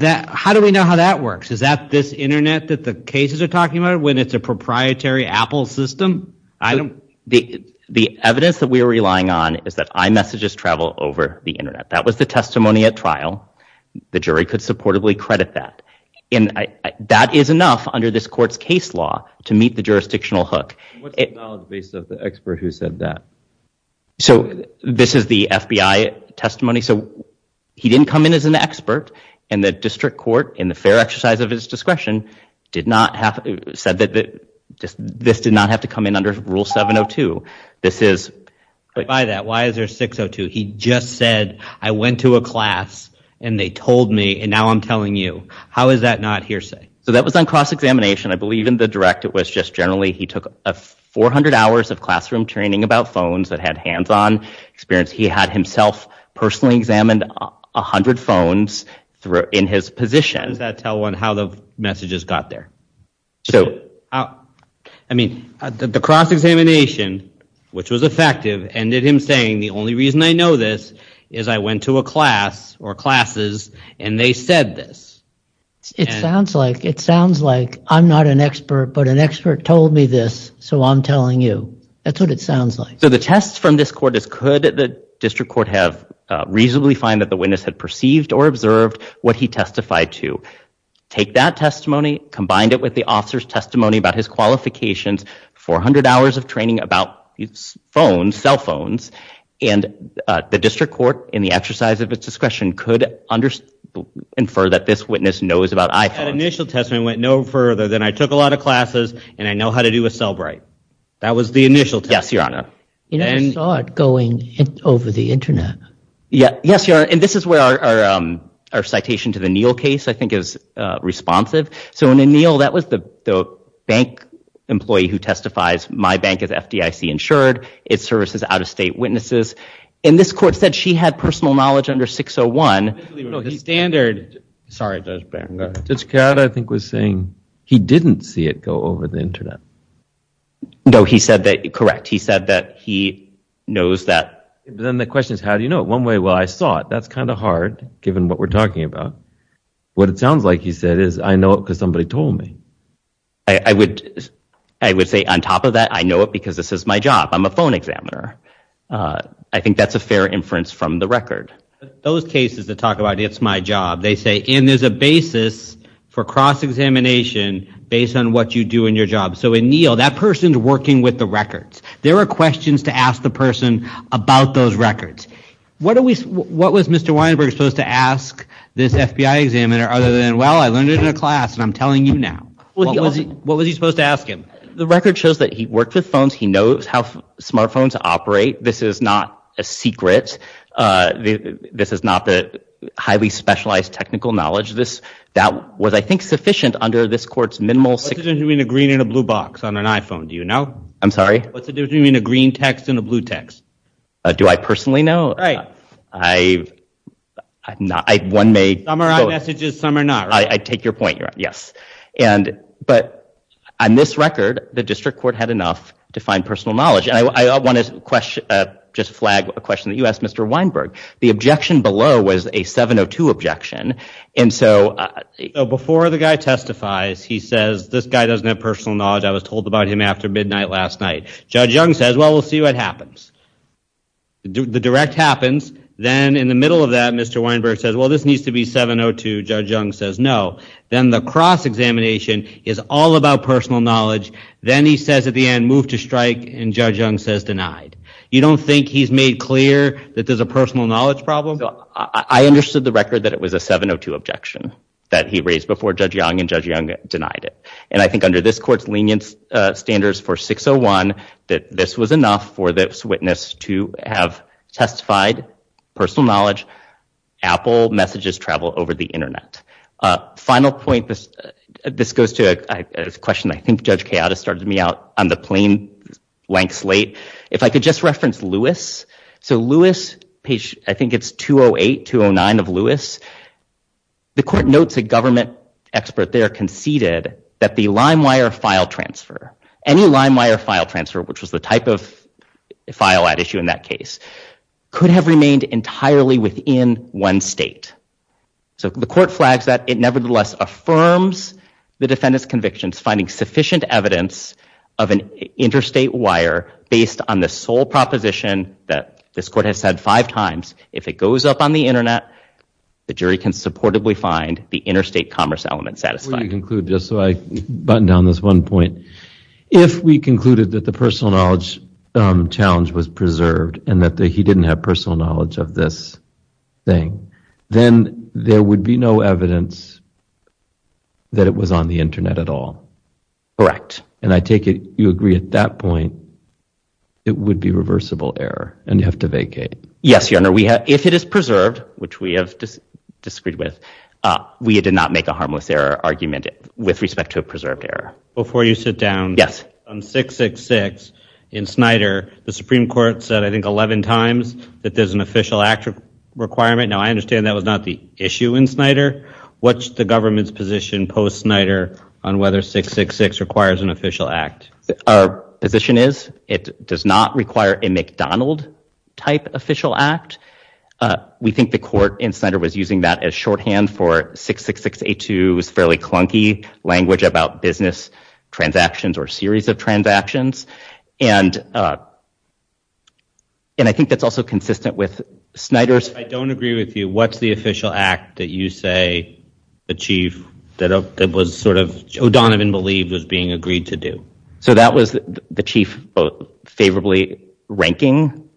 how do we know how that works? Is that this internet that the cases are talking about, when it's a proprietary Apple system? The evidence that we are relying on is that iMessages travel over the internet. That was the testimony at trial. The jury could supportably credit that, and that is enough under this court's case law to meet the jurisdictional hook. What's the knowledge base of the expert who said that? So this is the FBI testimony, so he didn't come in as an expert, and the district court, in the fair exercise of his discretion, said that this did not have to come in under Rule 702. Why is there 602? He just said, I went to a class and they told me, and now I'm telling you. How is that not hearsay? So that was on cross-examination. I believe in the direct, it was just generally he took 400 hours of classroom training about phones that had hands-on experience. He had himself personally examined 100 phones in his position. Does that tell on how the messages got there? So I mean, the cross-examination, which was effective, ended him saying, the only reason I know this is I went to a class or classes and they said this. It sounds like I'm not an expert, but an expert told me this, so I'm telling you. That's what it sounds like. So the test from this court is, could the district court have reasonably find that the take that testimony, combined it with the officer's testimony about his qualifications, 400 hours of training about phones, cell phones, and the district court, in the exercise of its discretion, could infer that this witness knows about iPhones. That initial testimony went no further than, I took a lot of classes and I know how to do a cell bright. That was the initial test. Yes, Your Honor. You never saw it going over the internet. Yes, Your Honor, and this is where our citation to the Neal case, I think, is responsive. So in Neal, that was the bank employee who testifies, my bank is FDIC insured, it services out-of-state witnesses. And this court said she had personal knowledge under 601. No, the standard. Sorry, Judge Barron. Judge Card, I think, was saying he didn't see it go over the internet. No, he said that, correct, he said that he knows that. Then the question is, how do you know it? One way, well, I saw it. That's kind of hard, given what we're talking about. What it sounds like, he said, is I know it because somebody told me. I would say, on top of that, I know it because this is my job. I'm a phone examiner. I think that's a fair inference from the record. Those cases that talk about, it's my job, they say, and there's a basis for cross-examination based on what you do in your job. So in Neal, that person's working with the records. There are questions to ask the person about those records. What was Mr. Weinberg supposed to ask this FBI examiner, other than, well, I learned it in a class, and I'm telling you now? What was he supposed to ask him? The record shows that he worked with phones. He knows how smartphones operate. This is not a secret. This is not the highly specialized technical knowledge. That was, I think, sufficient under this court's minimal What's the difference between a green and a blue box on an iPhone? Do you know? I'm sorry? What's the difference between a green text and a blue text? Do I personally know? Right. Some are on messages, some are not. I take your point. Yes. But on this record, the district court had enough to find personal knowledge. And I want to just flag a question that you asked, Mr. Weinberg. The objection below was a 702 objection. And so before the guy testifies, he says, this guy doesn't have personal knowledge. I was told about him after midnight last night. Judge Young says, well, we'll see what happens. The direct happens. Then in the middle of that, Mr. Weinberg says, well, this needs to be 702. Judge Young says no. Then the cross-examination is all about personal knowledge. Then he says at the end, move to strike. And Judge Young says denied. You don't think he's made clear that there's a personal knowledge problem? I understood the record that it was a 702 objection that he raised before Judge Young, and Judge Young denied it. And I think under this court's lenience standards for 601, that this was enough for this witness to have testified personal knowledge. Apple messages travel over the internet. Final point, this goes to a question I think started me out on the plain blank slate. If I could just reference Lewis. So Lewis, page, I think it's 208, 209 of Lewis. The court notes a government expert there conceded that the Limewire file transfer, any Limewire file transfer, which was the type of file at issue in that case, could have remained entirely within one state. So the court flags that. It nevertheless affirms the defendant's convictions finding sufficient evidence of an interstate wire based on the sole proposition that this court has said five times. If it goes up on the internet, the jury can supportably find the interstate commerce element satisfied. Let me conclude just so I button down this one point. If we concluded that the personal knowledge challenge was preserved and that he didn't have personal knowledge of this thing, then there would be no evidence that it was on the internet at all. Correct. And I take it you agree at that point it would be reversible error and you have to vacate. Yes, your honor. We have if it is preserved, which we have disagreed with, we did not make a harmless error argument with respect to a preserved error. Before you sit down. Yes. On 666 in Snyder, the Supreme Court said, I think, 11 times that there's an official act requirement. Now, I understand that was not the issue in Snyder. What's the government's position post Snyder on whether 666 requires an official act? Our position is it does not require a McDonald type official act. We think the court in Snyder was using that as shorthand for 66682's fairly language about business transactions or series of transactions. And I think that's also consistent with Snyder's. I don't agree with you. What's the official act that you say the chief that was sort of O'Donovan believed was being agreed to do? So that was the chief favorably ranking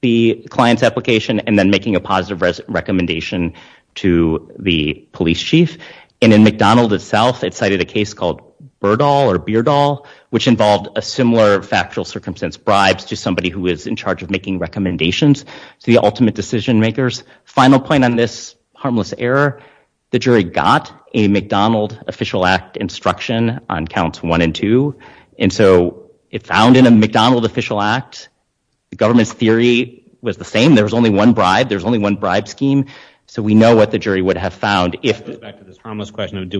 the client's and then making a positive recommendation to the police chief. And in McDonald itself, it cited a case called Burdall or Beardall, which involved a similar factual circumstance, bribes to somebody who is in charge of making recommendations to the ultimate decision makers. Final point on this harmless error, the jury got a McDonald official act instruction on counts one and two. And so it found in a McDonald official act, the government's theory was the same. There's only one bribe scheme. So we know what the jury would have found. Do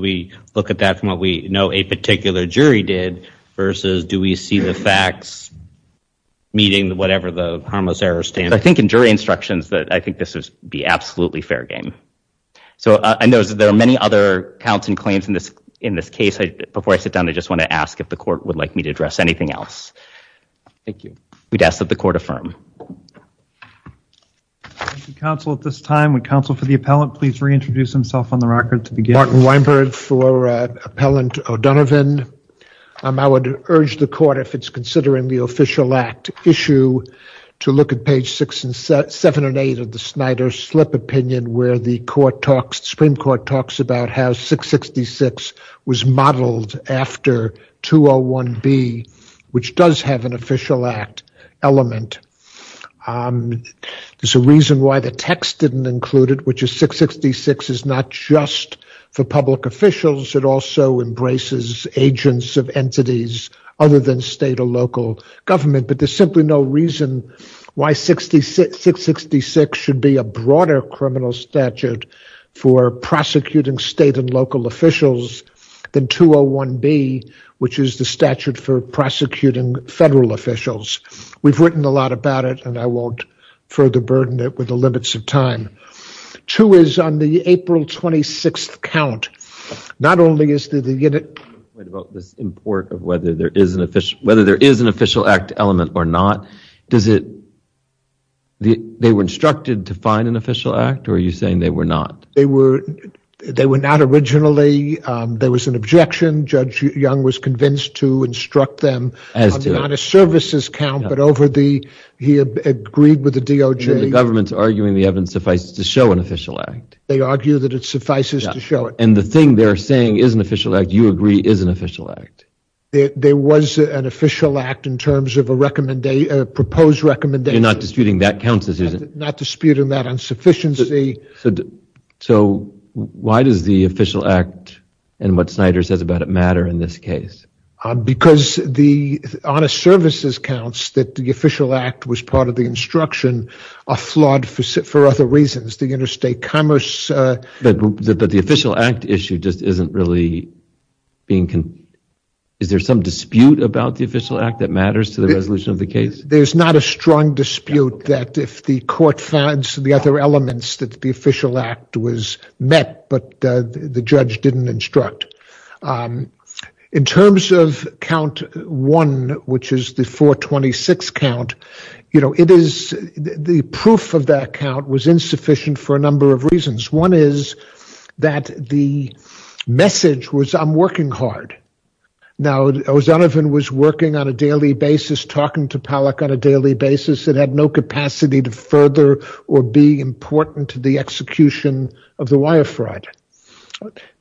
we look at that from what we know a particular jury did versus do we see the facts meeting whatever the harmless errors stand? I think in jury instructions that I think this would be absolutely fair game. So I know there are many other counts and claims in this case. Before I sit down, I just want to ask if the court would like me to address anything else. Thank you. We'd ask that the court affirm. Counsel at this time, would counsel for the appellant, please reintroduce himself on the record to begin. Martin Weinberg for appellant O'Donovan. I would urge the court if it's considering the official act issue to look at page six and seven and eight of the Snyder slip opinion, where the Supreme Court talks about how 666 was modeled after 201B, which does have an official act element. There's a reason why the text didn't include it, which is 666 is not just for public officials. It also embraces agents of entities other than state or local government, but there's simply no reason why 666 should be a broader criminal statute for prosecuting state and local officials than 201B, which is the statute for prosecuting federal officials. We've written a lot about it and I won't further burden it with the limits of time. Two is on the April 26th count, not only is the unit about this import of whether there is an official, whether there is an official act element or not, does it, they were instructed to find an official act or are you saying they were not? They were, they were not originally, there was an objection. Judge Young was convinced to instruct them on the amount of services count, but over the, he agreed with the DOJ. The government's arguing the evidence suffices to show an official act. They argue that it suffices to show it. And the thing they're saying is an official act you agree is an official act. There was an official act in terms of a recommendation, a proposed recommendation. You're not disputing that not disputing that insufficiency. So why does the official act and what Snyder says about it matter in this case? Because the honest services counts that the official act was part of the instruction are flawed for other reasons, the interstate commerce. But the official act issue just isn't really being, is there some dispute about the official act that matters to the case? There's not a strong dispute that if the court finds the other elements that the official act was met, but the judge didn't instruct. In terms of count one, which is the 426 count, you know, it is the proof of that count was insufficient for a number of reasons. One is that the message was, I'm working hard. Now, O'Donovan was working on a daily basis, talking to Pollack on a daily basis that had no capacity to further or be important to the execution of the wire fraud.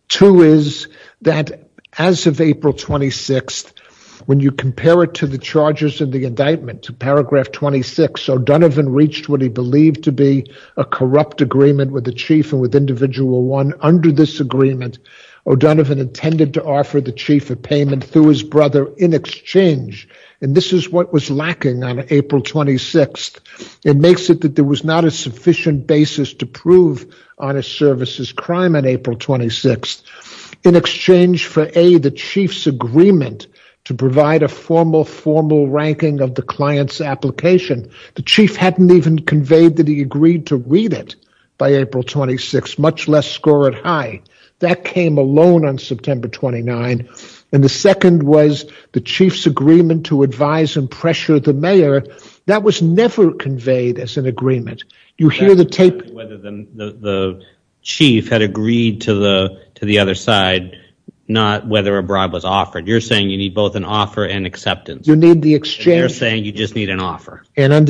Two is that as of April 26th, when you compare it to the charges of the indictment to paragraph 26, O'Donovan reached what he believed to be a corrupt agreement with the chief and with individual one under this agreement, O'Donovan intended to offer the chief a payment through his brother in exchange. And this is what was lacking on April 26th. It makes it that there was not a sufficient basis to prove honest services crime on April 26th in exchange for a, the chief's agreement to provide a formal, formal ranking of the client's application. The chief hadn't even conveyed that he agreed to read it by April 26th, much less score it high. That came alone on September 29th. And the second was the chief's agreement to advise and pressure the mayor that was never conveyed as an agreement. You hear the tape, the chief had agreed to the, to the other side, not whether a bribe was offered. You're under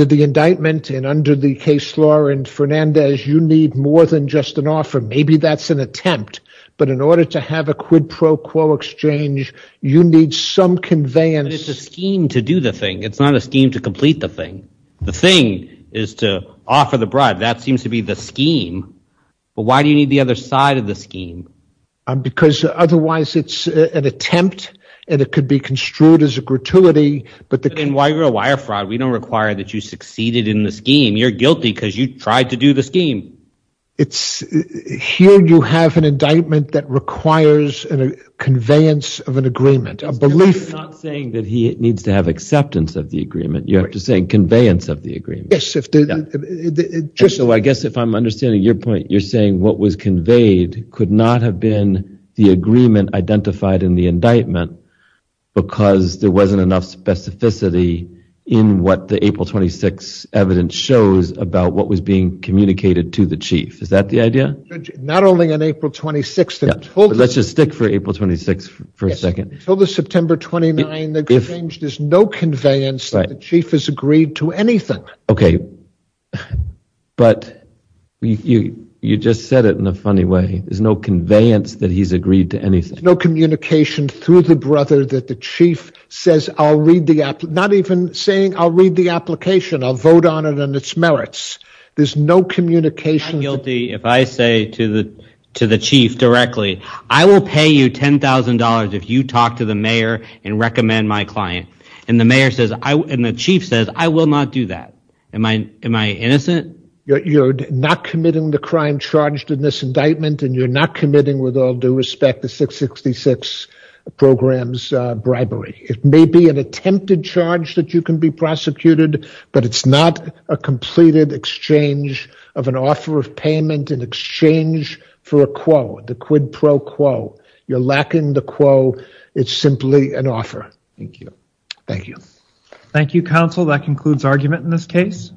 the indictment and under the case law and Fernandez, you need more than just an offer. Maybe that's an attempt, but in order to have a quid pro quo exchange, you need some conveyance scheme to do the thing. It's not a scheme to complete the thing. The thing is to offer the bribe. That seems to be the scheme, but why do you need the other side of the scheme? Because otherwise it's an attempt and it could be construed as a gratuity, but then why you're a wire fraud? We don't require that you succeeded in the scheme. You're guilty because you tried to do the scheme. It's here. You have an indictment that requires an conveyance of an agreement, a belief saying that he needs to have acceptance of the agreement. You have to say conveyance of the agreement. So I guess if I'm understanding your point, you're saying what was conveyed could not have been the agreement identified in the indictment because there wasn't enough specificity in what the April 26th evidence shows about what was being communicated to the chief. Is that the idea? Not only on April 26th. Let's just stick for April 26th for a second. Until the September 29th, there's no conveyance that the chief has agreed to anything. Okay, but you just said it in a funny way. There's no conveyance that he's agreed to anything. No communication through the brother that the chief says, I'll read the app, not even saying, I'll read the application. I'll vote on it and its merits. There's no communication. I'm guilty if I say to the chief directly, I will pay you $10,000 if you talk to the mayor and recommend my client. And the mayor says, and the chief says, I will not do that. Am I innocent? You're not committing the crime charged in this indictment and you're not committing with all due respect the 666 program's bribery. It may be an attempted charge that you can be prosecuted, but it's not a completed exchange of an offer of payment in exchange for a quo, the quid pro quo. You're lacking the quo. It's simply an offer. Thank you. Thank you, counsel. That concludes argument in this case.